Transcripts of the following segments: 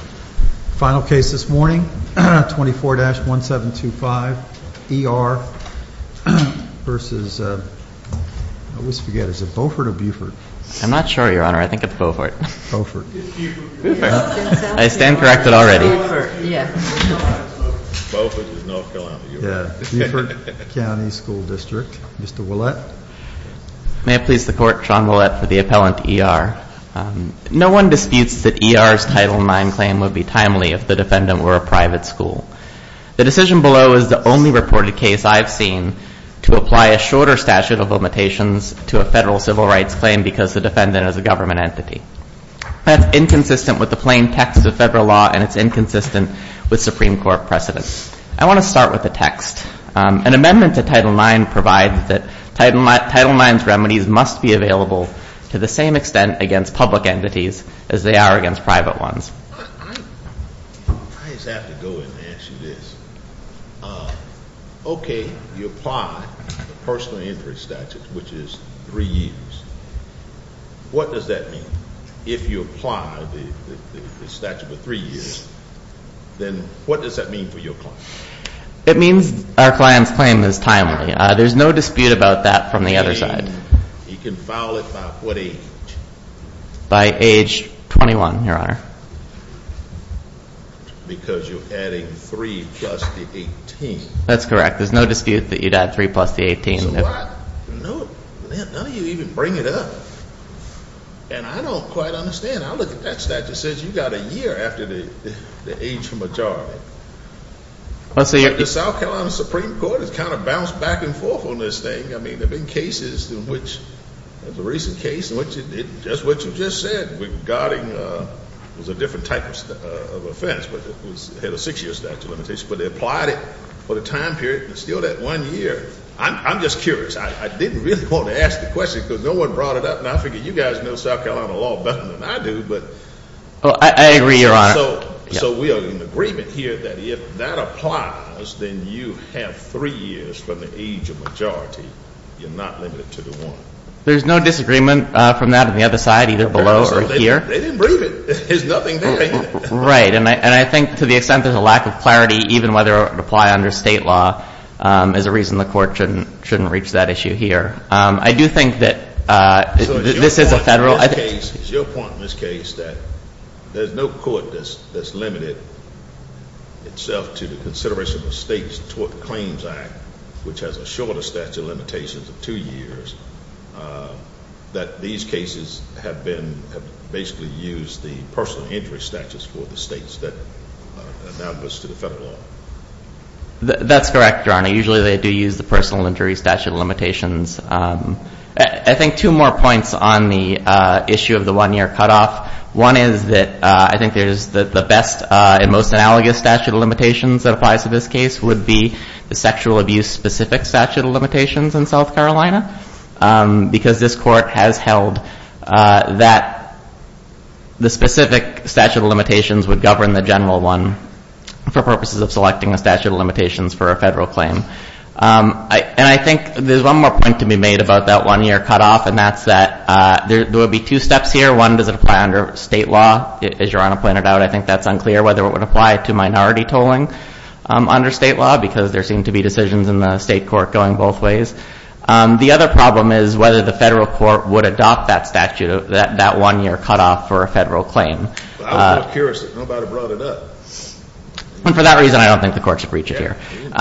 Final case this morning, 24-1725, E.R. v. Beaufort County School District, Mr. Ouellette. May it please the Court, Sean Ouellette for the appellant, E.R. v. Beaufort County School District, Mr. Ouellette. I just have to go in and ask you this. Okay, you apply the personal interest statute, which is three years. What does that mean? If you apply the statute of three years, then what does that mean for your client? It means our client's claim is timely. There's no dispute about that from the other side. You can file it by what age? By age 21, Your Honor. Because you're adding three plus the 18. That's correct. There's no dispute that you'd add three plus the 18. So what? None of you even bring it up. And I don't quite understand. I look at that statute. It says you got a year after the age majority. The South Carolina Supreme Court has kind of bounced back and forth on this thing. I mean, there have been cases in which there's a recent case in which it did just what you just said. It was a different type of offense, but it had a six-year statute of limitations. But they applied it for the time period and it's still that one year. I'm just curious. I didn't really want to ask the question because no one brought it up. And I figure you guys know South Carolina law better than I do. I agree, Your Honor. So we are in agreement here that if that applies, then you have three years from the age of majority. You're not limited to the one. There's no disagreement from that on the other side, either below or here. They didn't bring it. There's nothing there, either. Right. And I think to the extent there's a lack of clarity, even whether it would apply under state law, is a reason the Court shouldn't reach that issue here. I do think that this is a federal. It's your point in this case that there's no court that's limited itself to the consideration of the State's Tort Claims Act, which has a shorter statute of limitations of two years, that these cases have basically used the personal injury statutes for the states that are analogous to the federal law. That's correct, Your Honor. Usually they do use the personal injury statute of limitations. I think two more points on the issue of the one-year cutoff. One is that I think there's the best and most analogous statute of limitations that applies to this case would be the sexual abuse-specific statute of limitations in South Carolina, because this Court has held that the specific statute of limitations would govern the general one for purposes of selecting a statute of limitations for a federal claim. And I think there's one more point to be made about that one-year cutoff, and that's that there would be two steps here. One, does it apply under state law? As Your Honor pointed out, I think that's unclear whether it would apply to minority tolling under state law, because there seem to be decisions in the state court going both ways. The other problem is whether the federal court would adopt that statute, that one-year cutoff for a federal claim. I was more curious if nobody brought it up. For that reason, I don't think the Court should reach it here. But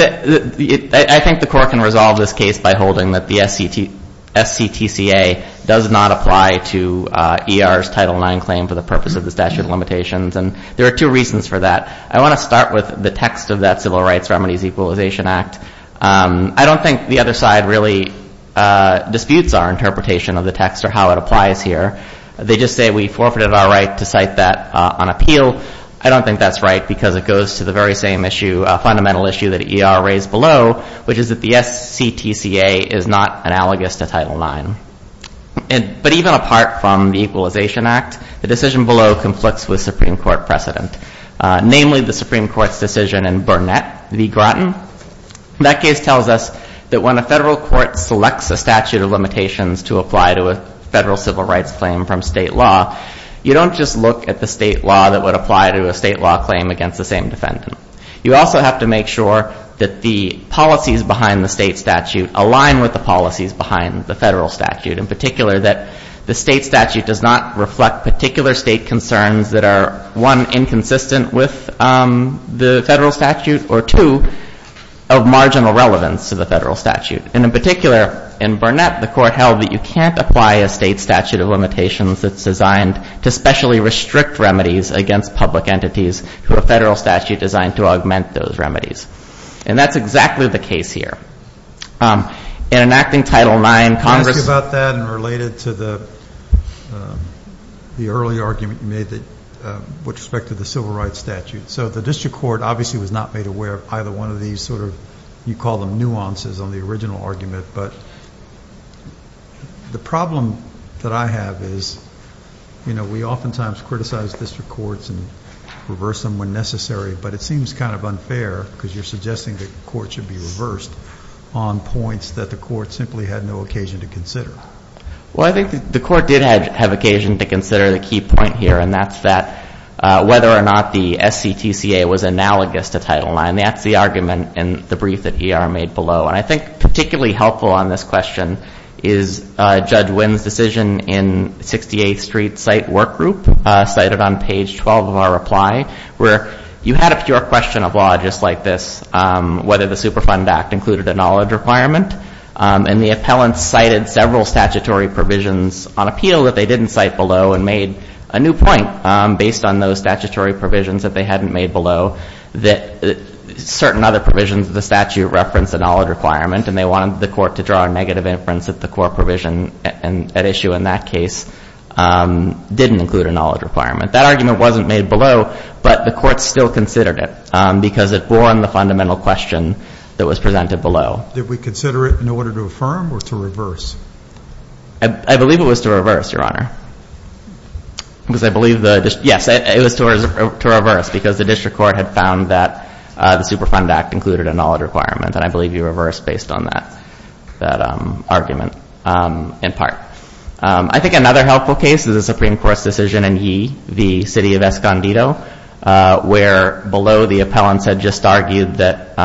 I think the Court can resolve this case by holding that the SCTCA does not apply to ER's Title IX claim for the purpose of the statute of limitations, and there are two reasons for that. I want to start with the text of that Civil Rights Remedies Equalization Act. I don't think the other side really disputes our interpretation of the text or how it applies here. They just say we forfeited our right to cite that on appeal. I don't think that's right because it goes to the very same issue, a fundamental issue that ER raised below, which is that the SCTCA is not analogous to Title IX. But even apart from the Equalization Act, the decision below conflicts with Supreme Court precedent, namely the Supreme Court's decision in Burnett v. Groton. That case tells us that when a federal court selects a statute of limitations to apply to a federal civil rights claim from state law, you don't just look at the state law that would apply to a state law claim against the same defendant. You also have to make sure that the policies behind the state statute align with the policies behind the federal statute, in particular that the state statute does not reflect particular state concerns that are, one, inconsistent with the federal statute, or two, of marginal relevance to the federal statute. And in particular, in Burnett, the Court held that you can't apply a state statute of limitations that's designed to specially restrict remedies against public entities to a federal statute designed to augment those remedies. And that's exactly the case here. In enacting Title IX, Congress- Can I ask you about that and related to the early argument you made with respect to the civil rights statute? So the district court obviously was not made aware of either one of these sort of, you call them nuances on the original argument. But the problem that I have is, you know, we oftentimes criticize district courts and reverse them when necessary. But it seems kind of unfair because you're suggesting that the court should be reversed on points that the court simply had no occasion to consider. Well, I think the court did have occasion to consider the key point here, and that's that whether or not the SCTCA was analogous to Title IX. That's the argument in the brief that ER made below. And I think particularly helpful on this question is Judge Wynn's decision in 68th Street Site Work Group, cited on page 12 of our reply, where you had a pure question of law just like this, whether the Superfund Act included a knowledge requirement. And the appellants cited several statutory provisions on appeal that they didn't cite below and made a new point based on those statutory provisions that they hadn't made below that certain other provisions of the statute reference a knowledge requirement, and they wanted the court to draw a negative inference that the core provision at issue in that case didn't include a knowledge requirement. That argument wasn't made below, but the court still considered it because it borne the fundamental question that was presented below. Did we consider it in order to affirm or to reverse? I believe it was to reverse, Your Honor. Yes, it was to reverse because the district court had found that the Superfund Act included a knowledge requirement, and I believe you reversed based on that argument in part. I think another helpful case is the Supreme Court's decision in Yee v. City of Escondido, where below the appellants had just argued that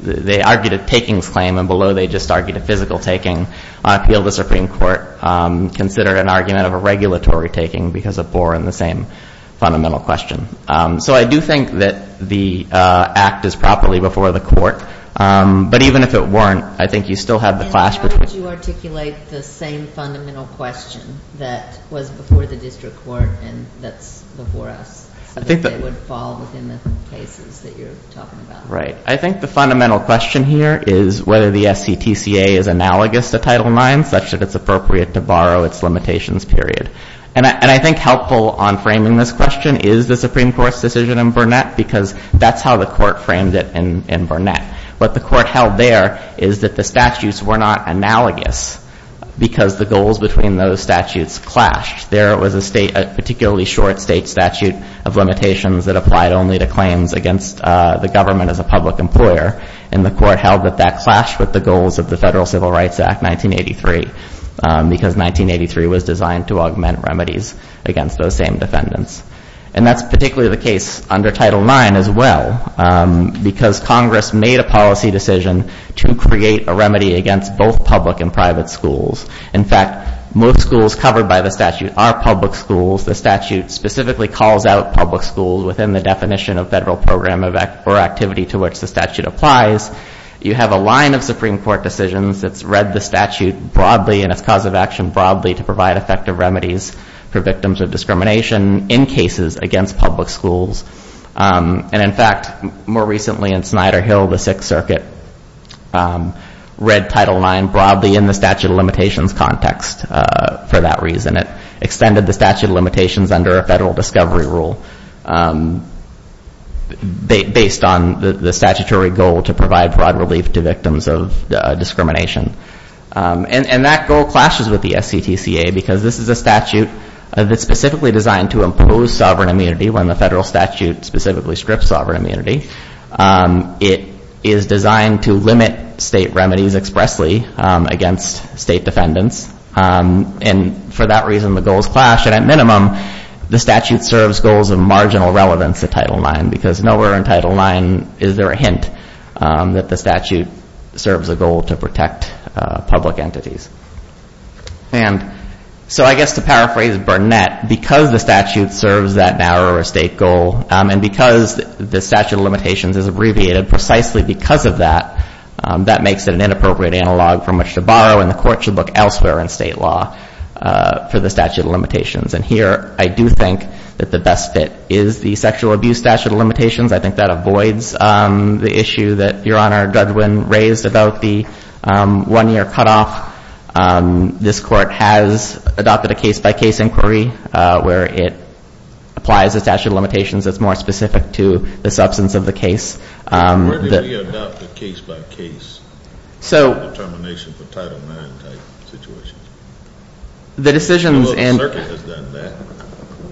they argued a takings claim, and below they just argued a physical taking on appeal. I think the Supreme Court considered an argument of a regulatory taking because it bore in the same fundamental question. So I do think that the Act is properly before the court, but even if it weren't, I think you still have the clash between the two. And how would you articulate the same fundamental question that was before the district court and that's before us so that they would fall within the cases that you're talking about? Right. I think the fundamental question here is whether the SCTCA is analogous to Title IX, such that it's appropriate to borrow its limitations period. And I think helpful on framing this question is the Supreme Court's decision in Burnett because that's how the court framed it in Burnett. What the court held there is that the statutes were not analogous because the goals between those statutes clashed. There was a particularly short state statute of limitations that applied only to claims against the government as a public employer, and the court held that that clashed with the goals of the Federal Civil Rights Act 1983 because 1983 was designed to augment remedies against those same defendants. And that's particularly the case under Title IX as well because Congress made a policy decision to create a remedy against both public and private schools. In fact, most schools covered by the statute are public schools. The statute specifically calls out public schools within the definition of federal program or activity to which the statute applies. You have a line of Supreme Court decisions that's read the statute broadly and its cause of action broadly to provide effective remedies for victims of discrimination in cases against public schools. And in fact, more recently in Snyder Hill, the Sixth Circuit read Title IX broadly in the statute of limitations context for that reason. It extended the statute of limitations under a federal discovery rule based on the statutory goal to provide broad relief to victims of discrimination. And that goal clashes with the SCTCA because this is a statute that's specifically designed to impose sovereign immunity when the federal statute specifically strips sovereign immunity. It is designed to limit state remedies expressly against state defendants. And for that reason, the goals clash. And at minimum, the statute serves goals of marginal relevance to Title IX because nowhere in Title IX is there a hint that the statute serves a goal to protect public entities. And so I guess to paraphrase Burnett, because the statute serves that narrower state goal and because the statute of limitations is abbreviated precisely because of that, that makes it an inappropriate analog from which to borrow and the court should look elsewhere in state law for the statute of limitations. And here, I do think that the best fit is the sexual abuse statute of limitations. I think that avoids the issue that Your Honor Juddwin raised about the one-year cutoff. This court has adopted a case-by-case inquiry where it applies the statute of limitations that's more specific to the substance of the case. Where do we adopt the case-by-case determination for Title IX-type situations? The decisions in- The local circuit has done that.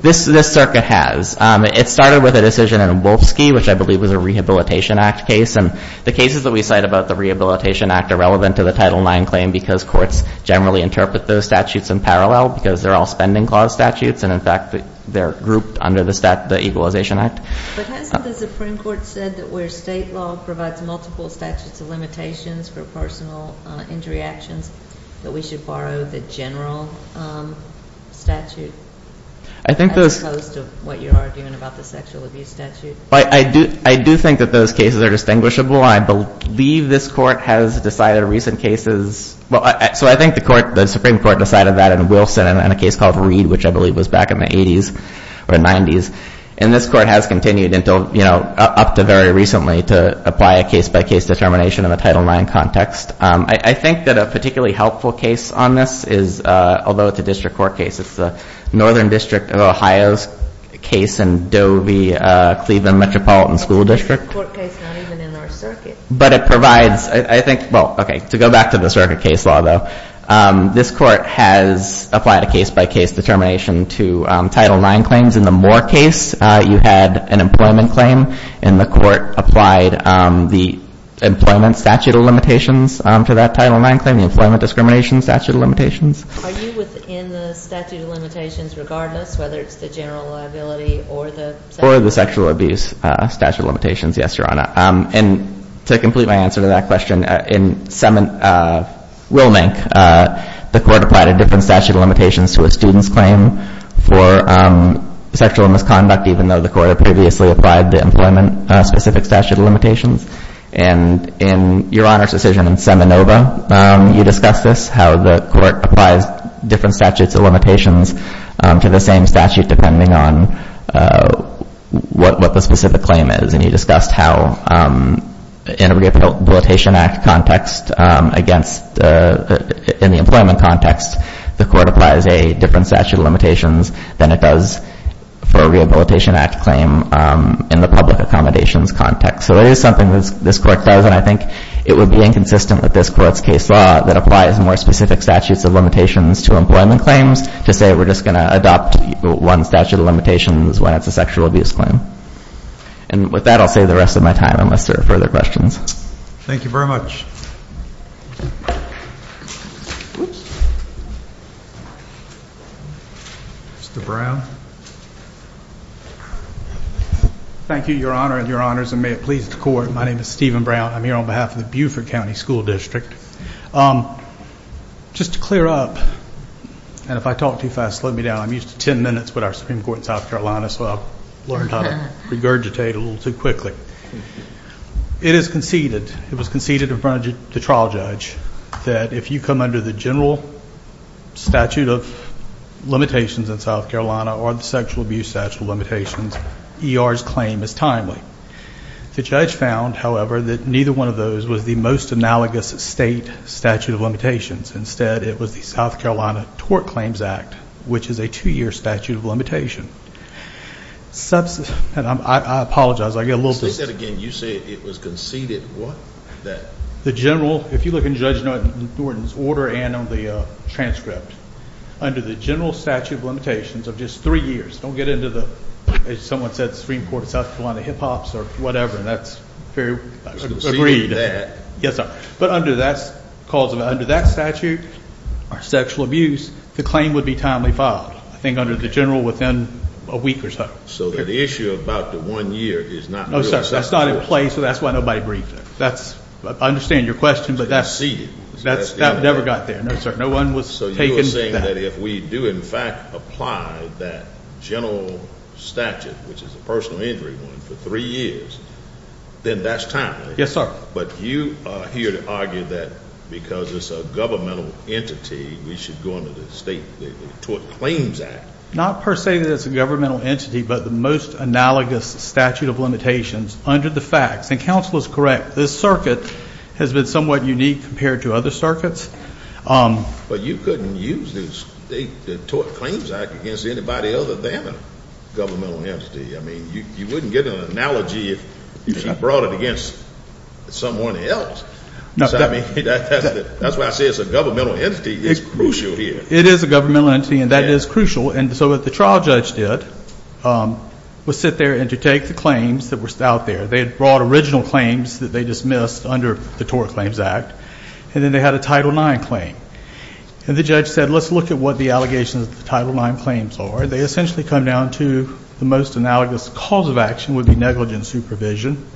This circuit has. It started with a decision in Wolfsky, which I believe was a Rehabilitation Act case. And the cases that we cite about the Rehabilitation Act are relevant to the Title IX claim because courts generally interpret those statutes in parallel because they're all spending clause statutes. And, in fact, they're grouped under the Equalization Act. But hasn't the Supreme Court said that where state law provides multiple statutes of limitations for personal injury actions, that we should borrow the general statute? I think those- As opposed to what you're arguing about the sexual abuse statute. I do think that those cases are distinguishable. I believe this court has decided recent cases. So I think the Supreme Court decided that in Wilson in a case called Reed, which I believe was back in the 80s or 90s. And this court has continued until, you know, up to very recently to apply a case-by-case determination in the Title IX context. I think that a particularly helpful case on this is, although it's a district court case, it's the Northern District of Ohio's case in Dovey-Cleveland Metropolitan School District. It's a district court case, not even in our circuit. But it provides, I think, well, okay, to go back to the circuit case law, though, this court has applied a case-by-case determination to Title IX claims. In the Moore case, you had an employment claim, and the court applied the employment statute of limitations to that Title IX claim, the employment discrimination statute of limitations. Are you within the statute of limitations regardless, whether it's the general liability or the- Or the sexual abuse statute of limitations, yes, Your Honor. And to complete my answer to that question, in Willmink, the court applied a different statute of limitations to a student's claim for sexual misconduct, even though the court had previously applied the employment-specific statute of limitations. And in Your Honor's decision in Seminova, you discussed this, how the court applies different statutes of limitations to the same statute, depending on what the specific claim is. And you discussed how in a Rehabilitation Act context against- In the employment context, the court applies a different statute of limitations than it does for a Rehabilitation Act claim in the public accommodations context. So that is something this court does, and I think it would be inconsistent with this court's case law that applies more specific statutes of limitations to employment claims, to say we're just going to adopt one statute of limitations when it's a sexual abuse claim. And with that, I'll save the rest of my time unless there are further questions. Thank you very much. Mr. Brown. Thank you, Your Honor and Your Honors, and may it please the Court. My name is Stephen Brown. I'm here on behalf of the Beaufort County School District. Just to clear up, and if I talk too fast, slow me down, because I'm used to 10 minutes with our Supreme Court in South Carolina, so I've learned how to regurgitate a little too quickly. It is conceded, it was conceded in front of the trial judge, that if you come under the general statute of limitations in South Carolina or the sexual abuse statute of limitations, ER's claim is timely. The judge found, however, that neither one of those was the most analogous state statute of limitations. Instead, it was the South Carolina Tort Claims Act, which is a two-year statute of limitation. I apologize, I get a little dizzy. Say that again. You say it was conceded, what? The general, if you look in Judge Norton's order and on the transcript, under the general statute of limitations of just three years, don't get into the, as someone said, Supreme Court of South Carolina hip-hops or whatever, and that's very agreed. Yes, sir. But under that statute, or sexual abuse, the claim would be timely filed. I think under the general within a week or so. So the issue about the one year is not real. That's not in place, so that's why nobody briefed it. I understand your question, but that never got there. No, sir, no one was taken to that. So you're saying that if we do, in fact, apply that general statute, which is a personal injury one, for three years, then that's timely. Yes, sir. But you are here to argue that because it's a governmental entity, we should go under the State Tort Claims Act. Not per se that it's a governmental entity, but the most analogous statute of limitations under the facts. And counsel is correct. This circuit has been somewhat unique compared to other circuits. But you couldn't use the Tort Claims Act against anybody other than a governmental entity. I mean, you wouldn't get an analogy if you brought it against someone else. I mean, that's why I say it's a governmental entity. It's crucial here. It is a governmental entity, and that is crucial. And so what the trial judge did was sit there and to take the claims that were out there. They had brought original claims that they dismissed under the Tort Claims Act, and then they had a Title IX claim. And the judge said, let's look at what the allegations of the Title IX claims are. They essentially come down to the most analogous cause of action would be negligent supervision,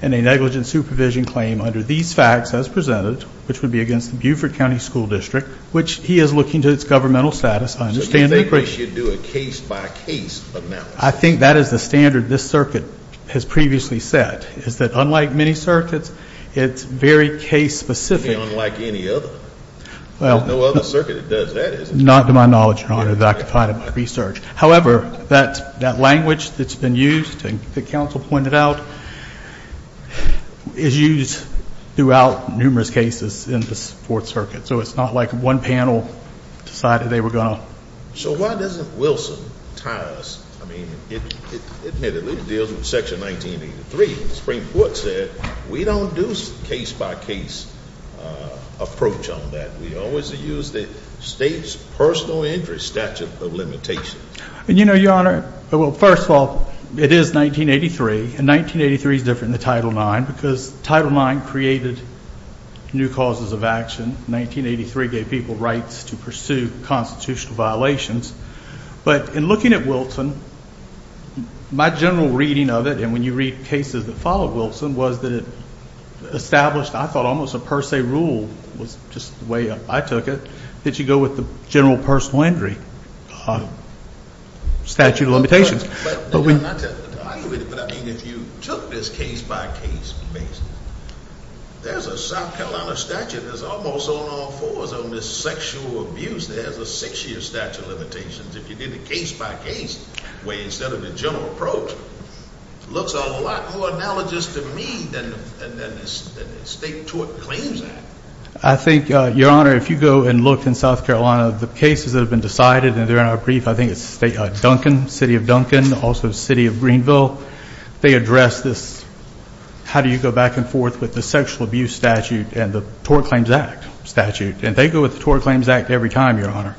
and a negligent supervision claim under these facts as presented, which would be against the Buford County School District, which he is looking to its governmental status on the standard. So you think we should do a case-by-case analysis? I think that is the standard this circuit has previously set, is that unlike many circuits, it's very case-specific. Unlike any other. There's no other circuit that does that. Not to my knowledge, Your Honor, that I could find in my research. However, that language that's been used, and the counsel pointed out, is used throughout numerous cases in this Fourth Circuit. So it's not like one panel decided they were going to. So why doesn't Wilson tie us? I mean, admittedly, it deals with Section 1983. The Supreme Court said we don't do case-by-case approach on that. We always use the state's personal injury statute of limitations. You know, Your Honor, well, first of all, it is 1983, and 1983 is different than Title IX because Title IX created new causes of action. 1983 gave people rights to pursue constitutional violations. But in looking at Wilson, my general reading of it, and when you read cases that followed Wilson, was that it established, I thought, almost a per se rule, was just the way I took it, that you go with the general personal injury statute of limitations. But I mean, if you took this case-by-case basis, there's a South Carolina statute that's almost on all fours on this sexual abuse. There's a six-year statute of limitations. If you did the case-by-case way instead of the general approach, it looks a lot more analogous to me than the State Tort Claims Act. I think, Your Honor, if you go and look in South Carolina, the cases that have been decided, and they're in our brief, I think it's Duncan, City of Duncan, also City of Greenville, they address this how do you go back and forth with the sexual abuse statute and the Tort Claims Act statute. And they go with the Tort Claims Act every time, Your Honor.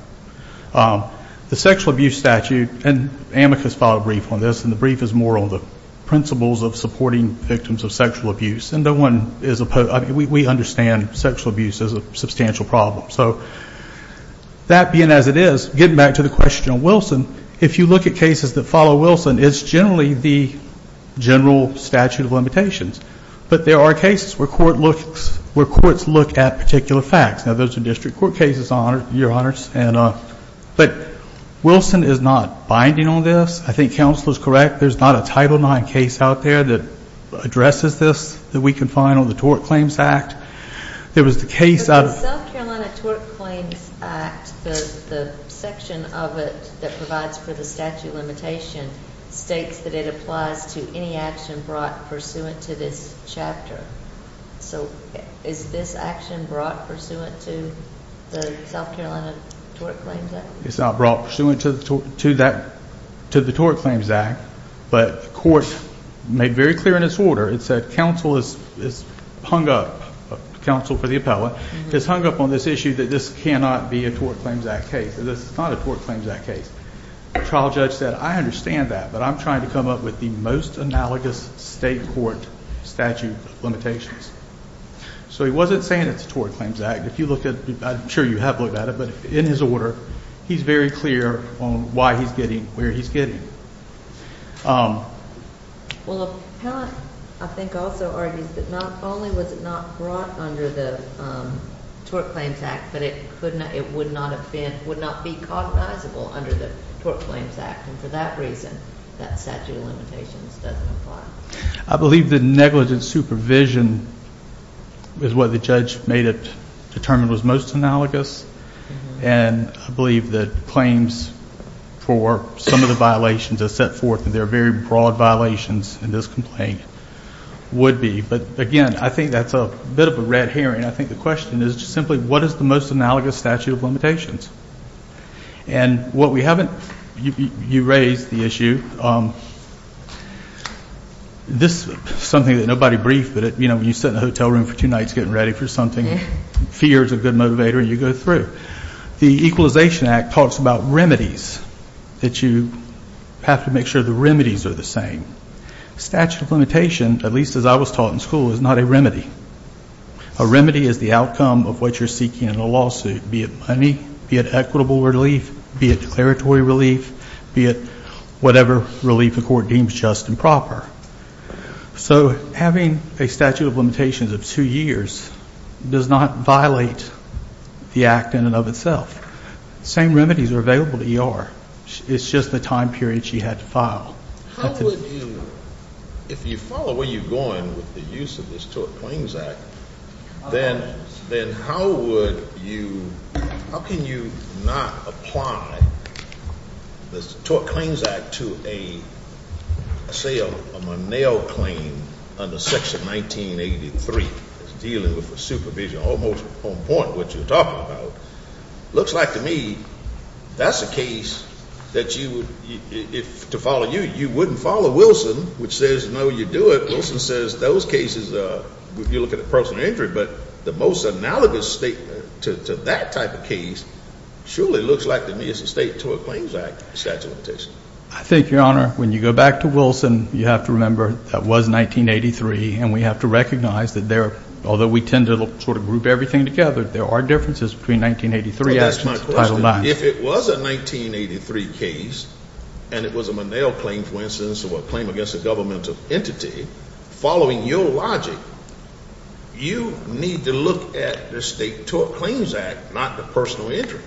The sexual abuse statute, and Amicus filed a brief on this, and the brief is more on the principles of supporting victims of sexual abuse. And no one is opposed. I mean, we understand sexual abuse is a substantial problem. So that being as it is, getting back to the question on Wilson, if you look at cases that follow Wilson, it's generally the general statute of limitations. But there are cases where courts look at particular facts. Now, those are district court cases, Your Honors. But Wilson is not binding on this. I think counsel is correct. There's not a Title IX case out there that addresses this that we can find on the Tort Claims Act. There was the case out of the- The South Carolina Tort Claims Act, the section of it that provides for the statute of limitation, states that it applies to any action brought pursuant to this chapter. So is this action brought pursuant to the South Carolina Tort Claims Act? It's not brought pursuant to the Tort Claims Act, but the court made very clear in its order. It said counsel is hung up, counsel for the appellate, is hung up on this issue that this cannot be a Tort Claims Act case. This is not a Tort Claims Act case. The trial judge said, I understand that, but I'm trying to come up with the most analogous state court statute of limitations. So he wasn't saying it's a Tort Claims Act. If you look at it, I'm sure you have looked at it, but in his order, he's very clear on why he's getting where he's getting. Well, the appellate, I think, also argues that not only was it not brought under the Tort Claims Act, but it would not be cognizable under the Tort Claims Act, and for that reason that statute of limitations doesn't apply. I believe the negligent supervision is what the judge made it determined was most analogous, and I believe that claims for some of the violations that are set forth, and there are very broad violations in this complaint, would be. But, again, I think that's a bit of a red herring. I think the question is simply what is the most analogous statute of limitations? And what we haven't, you raised the issue. This is something that nobody briefed, but, you know, when you sit in a hotel room for two nights getting ready for something, fear is a good motivator, and you go through. The Equalization Act talks about remedies, that you have to make sure the remedies are the same. Statute of limitation, at least as I was taught in school, is not a remedy. A remedy is the outcome of what you're seeking in a lawsuit, be it money, be it equitable relief, be it declaratory relief, be it whatever relief the court deems just and proper. So having a statute of limitations of two years does not violate the act in and of itself. The same remedies are available to ER. It's just the time period she had to file. How would you, if you follow where you're going with the use of this Tort Claims Act, then how would you, how can you not apply this Tort Claims Act to a, say, a Monell claim under Section 1983? It's dealing with supervision, almost on point what you're talking about. Looks like to me that's a case that you would, if to follow you, you wouldn't follow Wilson, which says no, you do it. Wilson says those cases, if you look at the personal injury, but the most analogous statement to that type of case surely looks like to me it's a State Tort Claims Act statute of limitation. I think, Your Honor, when you go back to Wilson, you have to remember that was 1983, and we have to recognize that there, although we tend to sort of group everything together, there are differences between 1983 and Title IX. If it was a 1983 case and it was a Monell claim, for instance, or a claim against a governmental entity, following your logic, you need to look at the State Tort Claims Act, not the personal injury.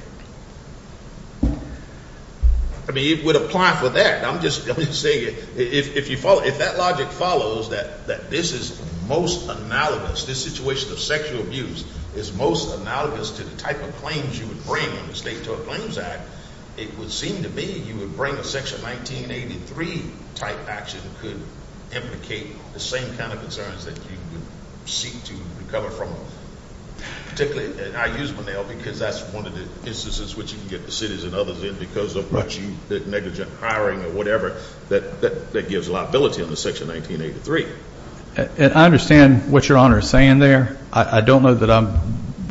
I mean, it would apply for that. I'm just going to say if you follow, if that logic follows that this is most analogous, this situation of sexual abuse is most analogous to the type of claims you would bring in the State Tort Claims Act, it would seem to me you would bring a Section 1983-type action that could implicate the same kind of concerns that you would seek to recover from, particularly, and I use Monell because that's one of the instances which you can get the cities and others in because of much negligent hiring or whatever that gives liability under Section 1983. And I understand what Your Honor is saying there. I don't know that I'm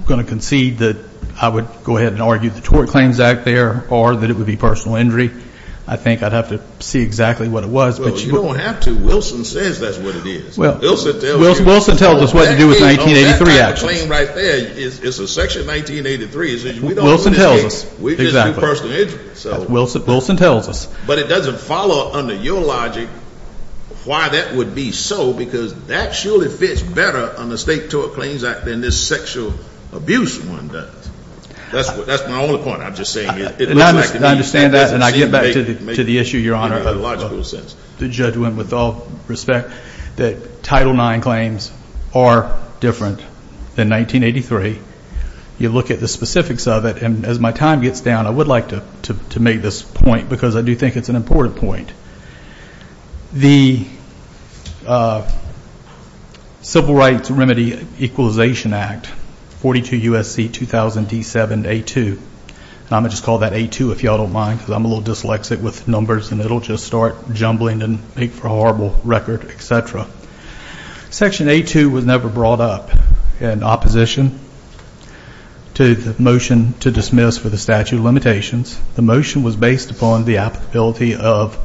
going to concede that I would go ahead and argue the Tort Claims Act there or that it would be personal injury. I think I'd have to see exactly what it was. Well, you don't have to. Wilson says that's what it is. Wilson tells us what to do with 1983 actions. That claim right there is a Section 1983. Wilson tells us. We just do personal injury. Wilson tells us. But it doesn't follow under your logic why that would be so because that surely fits better on the State Tort Claims Act than this sexual abuse one does. That's my only point. I'm just saying it looks like it. I understand that, and I get back to the issue, Your Honor, of the judgment with all respect, that Title IX claims are different than 1983. You look at the specifics of it, and as my time gets down, I would like to make this point because I do think it's an important point. The Civil Rights Remedy Equalization Act, 42 U.S.C. 2000 D7 A2, and I'm going to just call that A2 if you all don't mind because I'm a little dyslexic with numbers and it will just start jumbling and make for a horrible record, et cetera. Section A2 was never brought up in opposition to the motion to dismiss for the statute of limitations. The motion was based upon the applicability of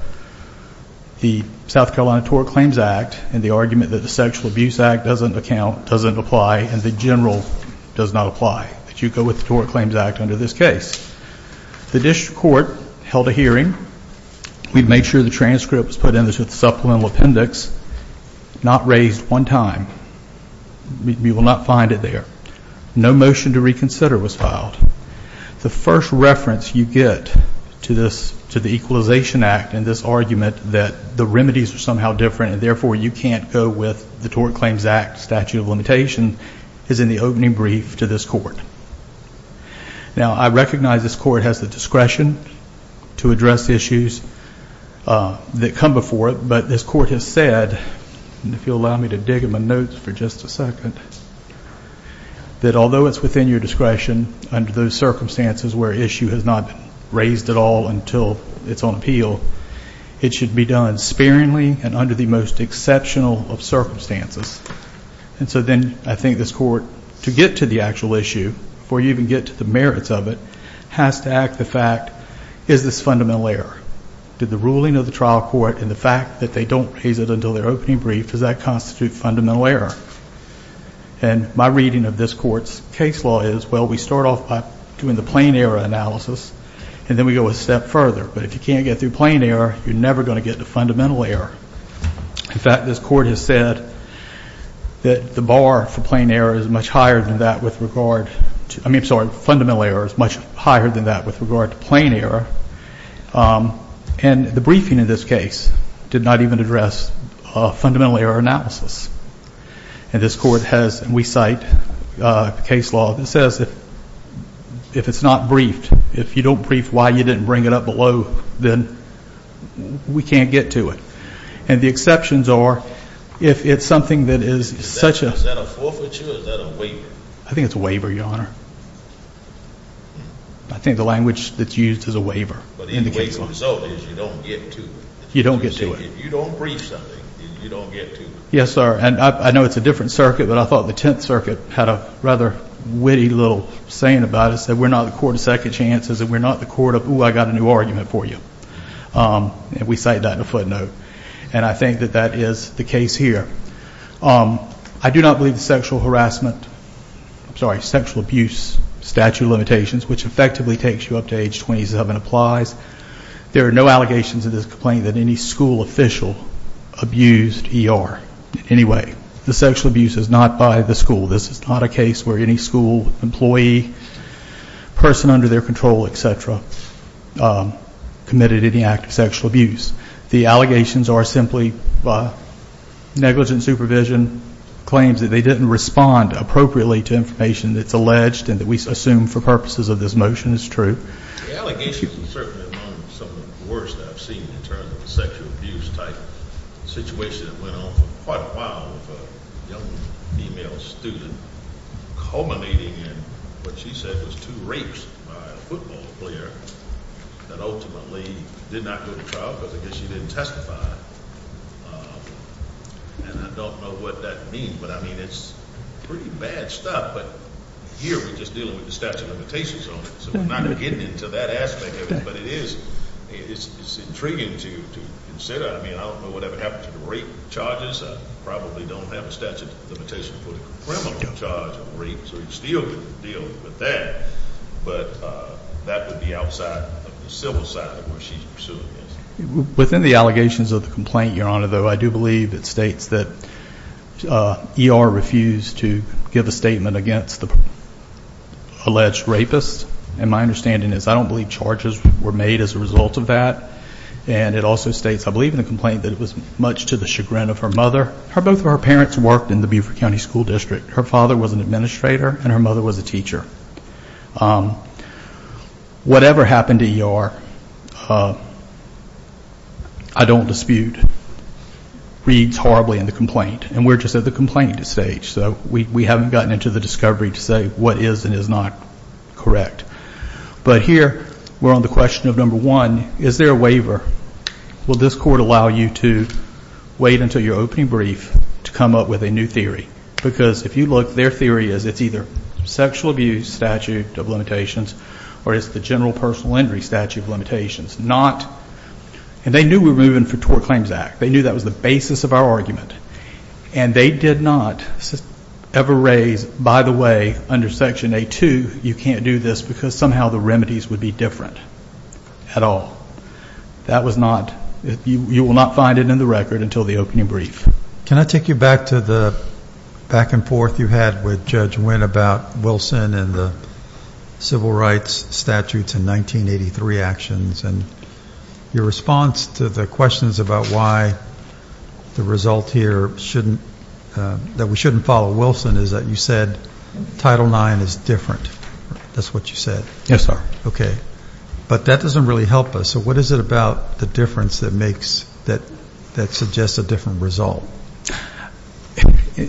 the South Carolina Tort Claims Act and the argument that the Sexual Abuse Act doesn't account, doesn't apply, and the general does not apply, that you go with the Tort Claims Act under this case. The district court held a hearing. We made sure the transcript was put in the supplemental appendix, not raised one time. We will not find it there. No motion to reconsider was filed. The first reference you get to the Equalization Act and this argument that the remedies are somehow different and therefore you can't go with the Tort Claims Act statute of limitation is in the opening brief to this court. Now, I recognize this court has the discretion to address issues that come before it, but this court has said, and if you'll allow me to dig in my notes for just a second, that although it's within your discretion under those circumstances where an issue has not been raised at all until it's on appeal, it should be done sparingly and under the most exceptional of circumstances. And so then I think this court, to get to the actual issue, before you even get to the merits of it, has to act the fact, is this fundamental error? Did the ruling of the trial court and the fact that they don't raise it until their opening brief, does that constitute fundamental error? And my reading of this court's case law is, well, we start off by doing the plain error analysis and then we go a step further. But if you can't get through plain error, you're never going to get to fundamental error. In fact, this court has said that the bar for plain error is much higher than that with regard to, I mean, I'm sorry, fundamental error is much higher than that with regard to plain error. And the briefing in this case did not even address fundamental error analysis. And this court has, and we cite, a case law that says if it's not briefed, if you don't brief why you didn't bring it up below, then we can't get to it. And the exceptions are if it's something that is such a – Is that a forfeiture or is that a waiver? I think it's a waiver, Your Honor. I think the language that's used is a waiver in the case law. But the waiver result is you don't get to it. You don't get to it. If you don't brief something, you don't get to it. Yes, sir. And I know it's a different circuit, but I thought the Tenth Circuit had a rather witty little saying about us that we're not the court of second chances and we're not the court of, ooh, I got a new argument for you. And we cite that in a footnote. And I think that that is the case here. I do not believe the sexual harassment – I'm sorry, sexual abuse statute of limitations, which effectively takes you up to age 27, applies. There are no allegations of this complaint that any school official abused ER in any way. The sexual abuse is not by the school. This is not a case where any school employee, person under their control, et cetera, committed any act of sexual abuse. The allegations are simply negligent supervision, claims that they didn't respond appropriately to information that's alleged and that we assume for purposes of this motion is true. The allegations are certainly among some of the worst I've seen in terms of the sexual abuse type situation. It went on for quite a while with a young female student culminating in what she said was two rapes by a football player that ultimately did not go to trial because I guess she didn't testify. And I don't know what that means, but, I mean, it's pretty bad stuff. But here we're just dealing with the statute of limitations on it, so we're not getting into that aspect of it. But it is – it's intriguing to consider. I mean, I don't know what would happen to the rape charges. I probably don't have a statute of limitations for the criminal charge of rape, so you still could deal with that. But that would be outside of the civil side of where she's pursuing this. Within the allegations of the complaint, Your Honor, though, I do believe it states that ER refused to give a statement against the alleged rapist. And my understanding is I don't believe charges were made as a result of that. And it also states, I believe, in the complaint that it was much to the chagrin of her mother. Both of her parents worked in the Beaufort County School District. Her father was an administrator and her mother was a teacher. Whatever happened to ER, I don't dispute, reads horribly in the complaint. And we're just at the complaint stage, so we haven't gotten into the discovery to say what is and is not correct. But here we're on the question of, number one, is there a waiver? Will this court allow you to wait until your opening brief to come up with a new theory? Because if you look, their theory is it's either sexual abuse statute of limitations or it's the general personal injury statute of limitations. Not, and they knew we were moving for Tort Claims Act. They knew that was the basis of our argument. And they did not ever raise, by the way, under Section A-2, you can't do this, because somehow the remedies would be different at all. That was not, you will not find it in the record until the opening brief. Can I take you back to the back and forth you had with Judge Wynn about Wilson and the civil rights statutes in 1983 actions? And your response to the questions about why the result here shouldn't, that we shouldn't follow Wilson, is that you said Title IX is different. That's what you said. Yes, sir. Okay. But that doesn't really help us. So what is it about the difference that makes, that suggests a different result?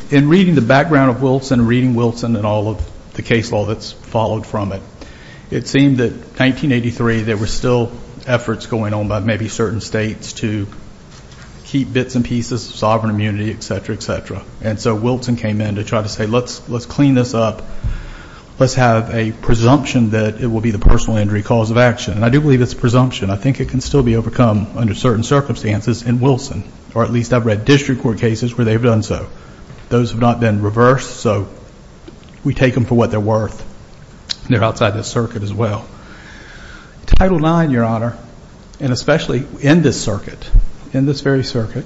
In reading the background of Wilson and reading Wilson and all of the case law that's followed from it, it seemed that 1983 there were still efforts going on by maybe certain states to keep bits and pieces of sovereign immunity, et cetera, et cetera. And so Wilson came in to try to say let's clean this up. Let's have a presumption that it will be the personal injury cause of action. And I do believe it's a presumption. I think it can still be overcome under certain circumstances in Wilson, or at least I've read district court cases where they've done so. Those have not been reversed, so we take them for what they're worth. They're outside the circuit as well. Title IX, Your Honor, and especially in this circuit, in this very circuit,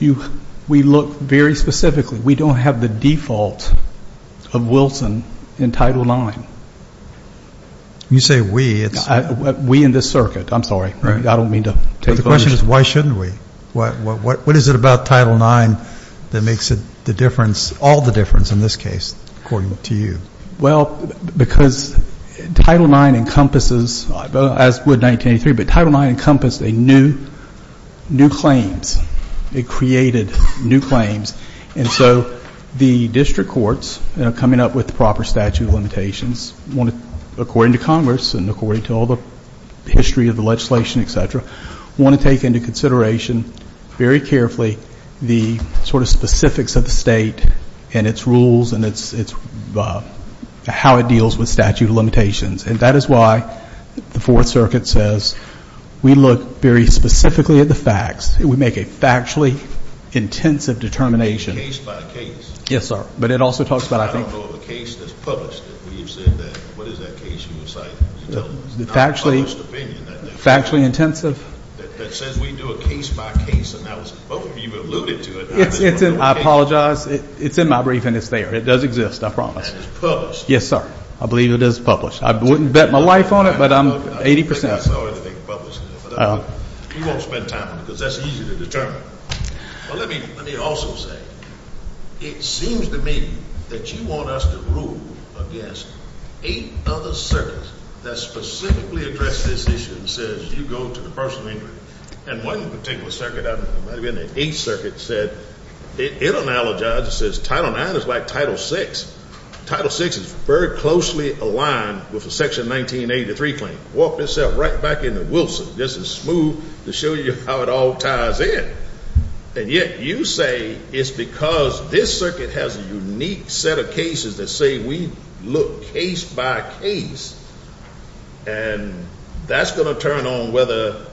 we look very specifically, we don't have the default of Wilson in Title IX. When you say we, it's... We in this circuit. I'm sorry. I don't mean to take the... But the question is why shouldn't we? What is it about Title IX that makes the difference, all the difference in this case, according to you? Well, because Title IX encompasses, as would 1983, but Title IX encompassed new claims. It created new claims. And so the district courts, you know, coming up with the proper statute of limitations, according to Congress and according to all the history of the legislation, et cetera, want to take into consideration very carefully the sort of specifics of the state and its rules and how it deals with statute of limitations. And that is why the Fourth Circuit says we look very specifically at the facts. We make a factually intensive determination. Case by case. Yes, sir. But it also talks about, I think... I don't know of a case that's published that we've said that, what is that case you were citing? Factually... It's not a published opinion. Factually intensive? That says we do a case by case, and that was, both of you alluded to it. It's in, I apologize, it's in my brief and it's there. It does exist, I promise. And it's published. Yes, sir. I believe it is published. I wouldn't bet my life on it, but I'm 80%. I'm sorry to think it's published. We won't spend time on it because that's easy to determine. But let me also say, it seems to me that you want us to rule against eight other circuits that specifically address this issue and says you go to the person of interest. And one particular circuit, I don't know, it might have been the Eighth Circuit, said, it analogizes, it says Title IX is like Title VI. Title VI is very closely aligned with the Section 1983 claim. Walk yourself right back into Wilson. This is smooth to show you how it all ties in. And yet you say it's because this circuit has a unique set of cases that say we look case by case. And that's going to turn on whether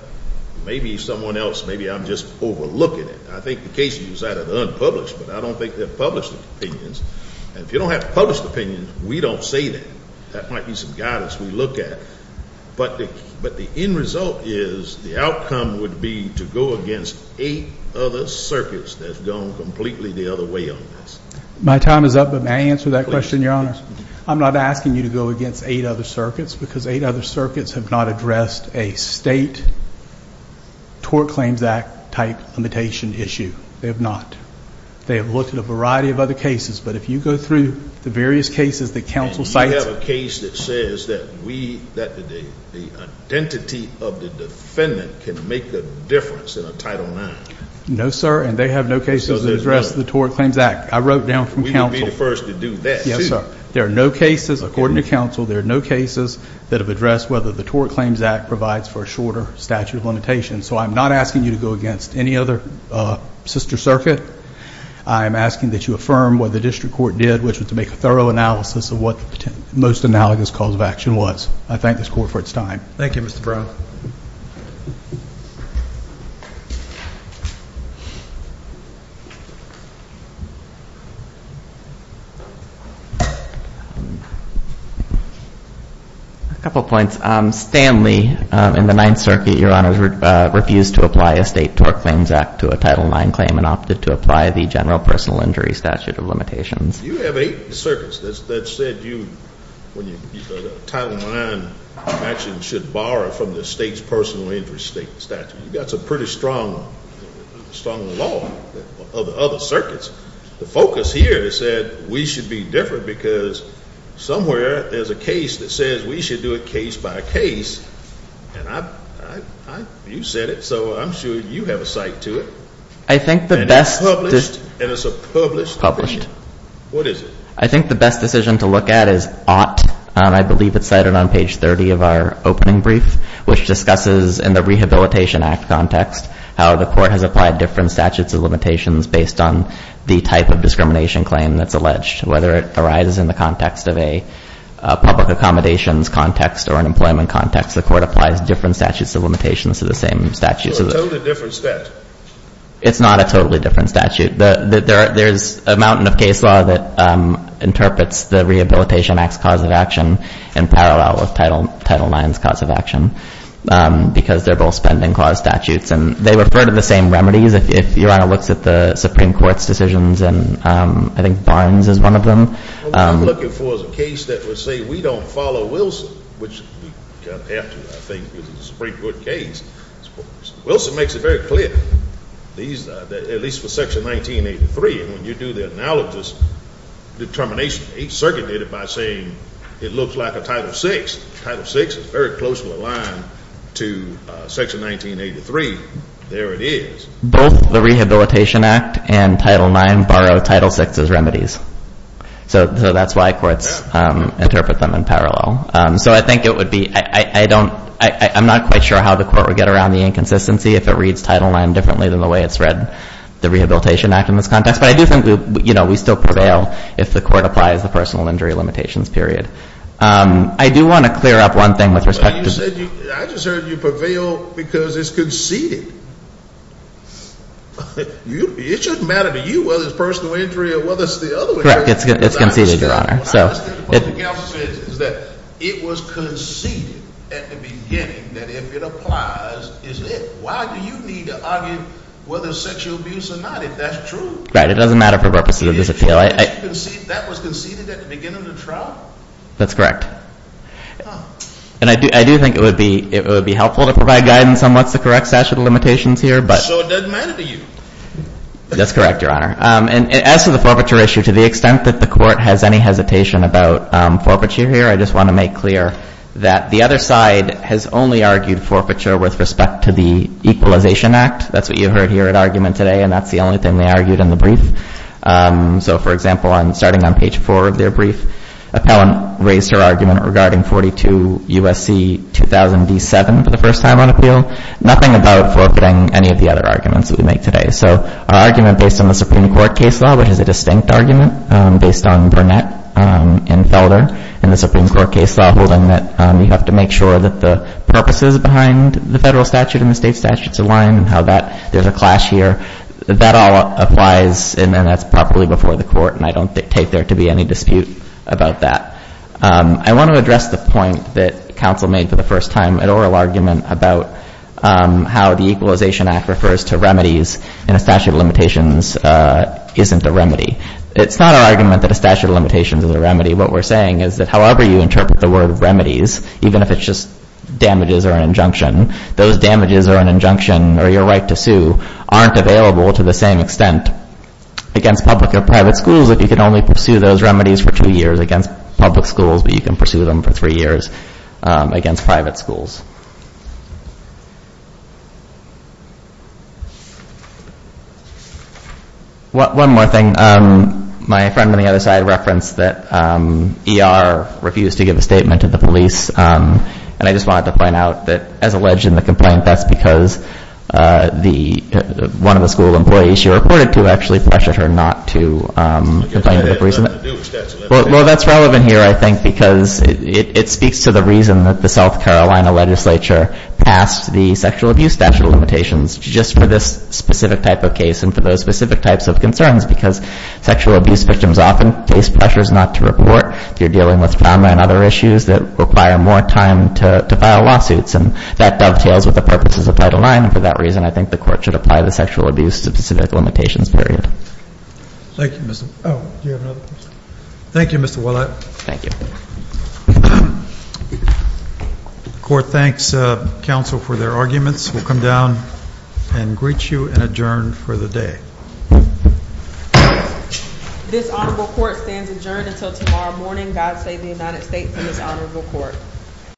maybe someone else, maybe I'm just overlooking it. I think the cases you cited are unpublished, but I don't think they're published opinions. And if you don't have published opinions, we don't say that. That might be some guidance we look at. But the end result is the outcome would be to go against eight other circuits that have gone completely the other way on this. My time is up, but may I answer that question, Your Honor? I'm not asking you to go against eight other circuits because eight other circuits have not addressed a state Tort Claims Act type limitation issue. They have not. They have looked at a variety of other cases. But if you go through the various cases that counsel cited. We have a case that says that the identity of the defendant can make a difference in a Title IX. No, sir, and they have no cases that address the Tort Claims Act. I wrote down from counsel. We would be the first to do that. Yes, sir. There are no cases. According to counsel, there are no cases that have addressed whether the Tort Claims Act provides for a shorter statute of limitations. So I'm not asking you to go against any other sister circuit. I'm asking that you affirm what the district court did, which was to make a thorough analysis of what the most analogous cause of action was. I thank this court for its time. Thank you, Mr. Brown. A couple of points. Stanley in the Ninth Circuit, Your Honor, refused to apply a state Tort Claims Act to a Title IX claim and opted to apply the general personal injury statute of limitations. You have eight circuits that said you, when you use the Title IX action, should borrow from the state's personal injury statute. That's a pretty strong law of other circuits. The focus here is that we should be different, because somewhere there's a case that says we should do it case by case, and you said it, so I'm sure you have a site to it. And it's published? Published. Published. What is it? I think the best decision to look at is ought. I believe it's cited on page 30 of our opening brief, which discusses in the Rehabilitation Act context, how the court has applied different statutes of limitations based on the type of discrimination claim that's alleged. Whether it arises in the context of a public accommodations context or an employment context, the court applies different statutes of limitations to the same statute. So a totally different statute. It's not a totally different statute. There's a mountain of case law that interprets the Rehabilitation Act's cause of action in parallel with Title IX's cause of action, because they're both spending clause statutes, and they refer to the same remedies. If Your Honor looks at the Supreme Court's decisions, and I think Barnes is one of them. What I'm looking for is a case that would say we don't follow Wilson, which we have to, I think, with the Supreme Court case. Wilson makes it very clear, at least for Section 1983, when you do the analogous determination, each circuit did it by saying it looks like a Title VI. Title VI is very close to the line to Section 1983. There it is. Both the Rehabilitation Act and Title IX borrow Title VI's remedies. So that's why courts interpret them in parallel. So I think it would be, I don't, I'm not quite sure how the court would get around the inconsistency if it reads Title IX differently than the way it's read the Rehabilitation Act in this context. But I do think, you know, we still prevail if the court applies the personal injury limitations period. I do want to clear up one thing with respect to the… I just heard you prevail because it's conceded. It shouldn't matter to you whether it's personal injury or whether it's the other way around. Correct. It's conceded, Your Honor. What I understand from what the counsel says is that it was conceded at the beginning that if it applies, it's it. Why do you need to argue whether it's sexual abuse or not if that's true? Right. It doesn't matter for purposes of this appeal. That was conceded at the beginning of the trial? That's correct. And I do think it would be helpful to provide guidance on what's the correct statute of limitations here. So it doesn't matter to you? That's correct, Your Honor. And as to the forfeiture issue, to the extent that the court has any hesitation about forfeiture here, I just want to make clear that the other side has only argued forfeiture with respect to the Equalization Act. That's what you heard here at argument today, and that's the only thing they argued in the brief. So, for example, starting on page 4 of their brief, appellant raised her argument regarding 42 U.S.C. 2007 for the first time on appeal. Nothing about forfeiting any of the other arguments that we make today. So our argument based on the Supreme Court case law, which is a distinct argument, based on Burnett and Felder in the Supreme Court case law, holding that you have to make sure that the purposes behind the federal statute and the state statutes align and how that there's a clash here. That all applies, and that's properly before the court, and I don't take there to be any dispute about that. I want to address the point that counsel made for the first time at oral argument about how the Equalization Act refers to remedies and a statute of limitations isn't a remedy. It's not our argument that a statute of limitations is a remedy. What we're saying is that however you interpret the word remedies, even if it's just damages or an injunction, those damages or an injunction or your right to sue aren't available to the same extent against public or private schools if you can only pursue those remedies for two years against public schools, but you can pursue them for three years against private schools. One more thing. My friend on the other side referenced that ER refused to give a statement to the police, and I just wanted to point out that as alleged in the complaint, that's because one of the school employees she reported to actually pressured her not to complain. Well, that's relevant here, I think, because it speaks to the reason that the South Carolina Legislature passed the Sexual Abuse Statute of Limitations just for this specific type of case and for those specific types of concerns, because sexual abuse victims often face pressures not to report. You're dealing with trauma and other issues that require more time to file lawsuits, and that dovetails with the purposes of Title IX, and for that reason, I think the Court should apply the Sexual Abuse Specific Limitations period. Thank you, Mr. — oh, do you have another question? Thank you, Mr. Willett. Thank you. The Court thanks counsel for their arguments. We'll come down and greet you and adjourn for the day. This honorable court stands adjourned until tomorrow morning. God save the United States and this honorable court.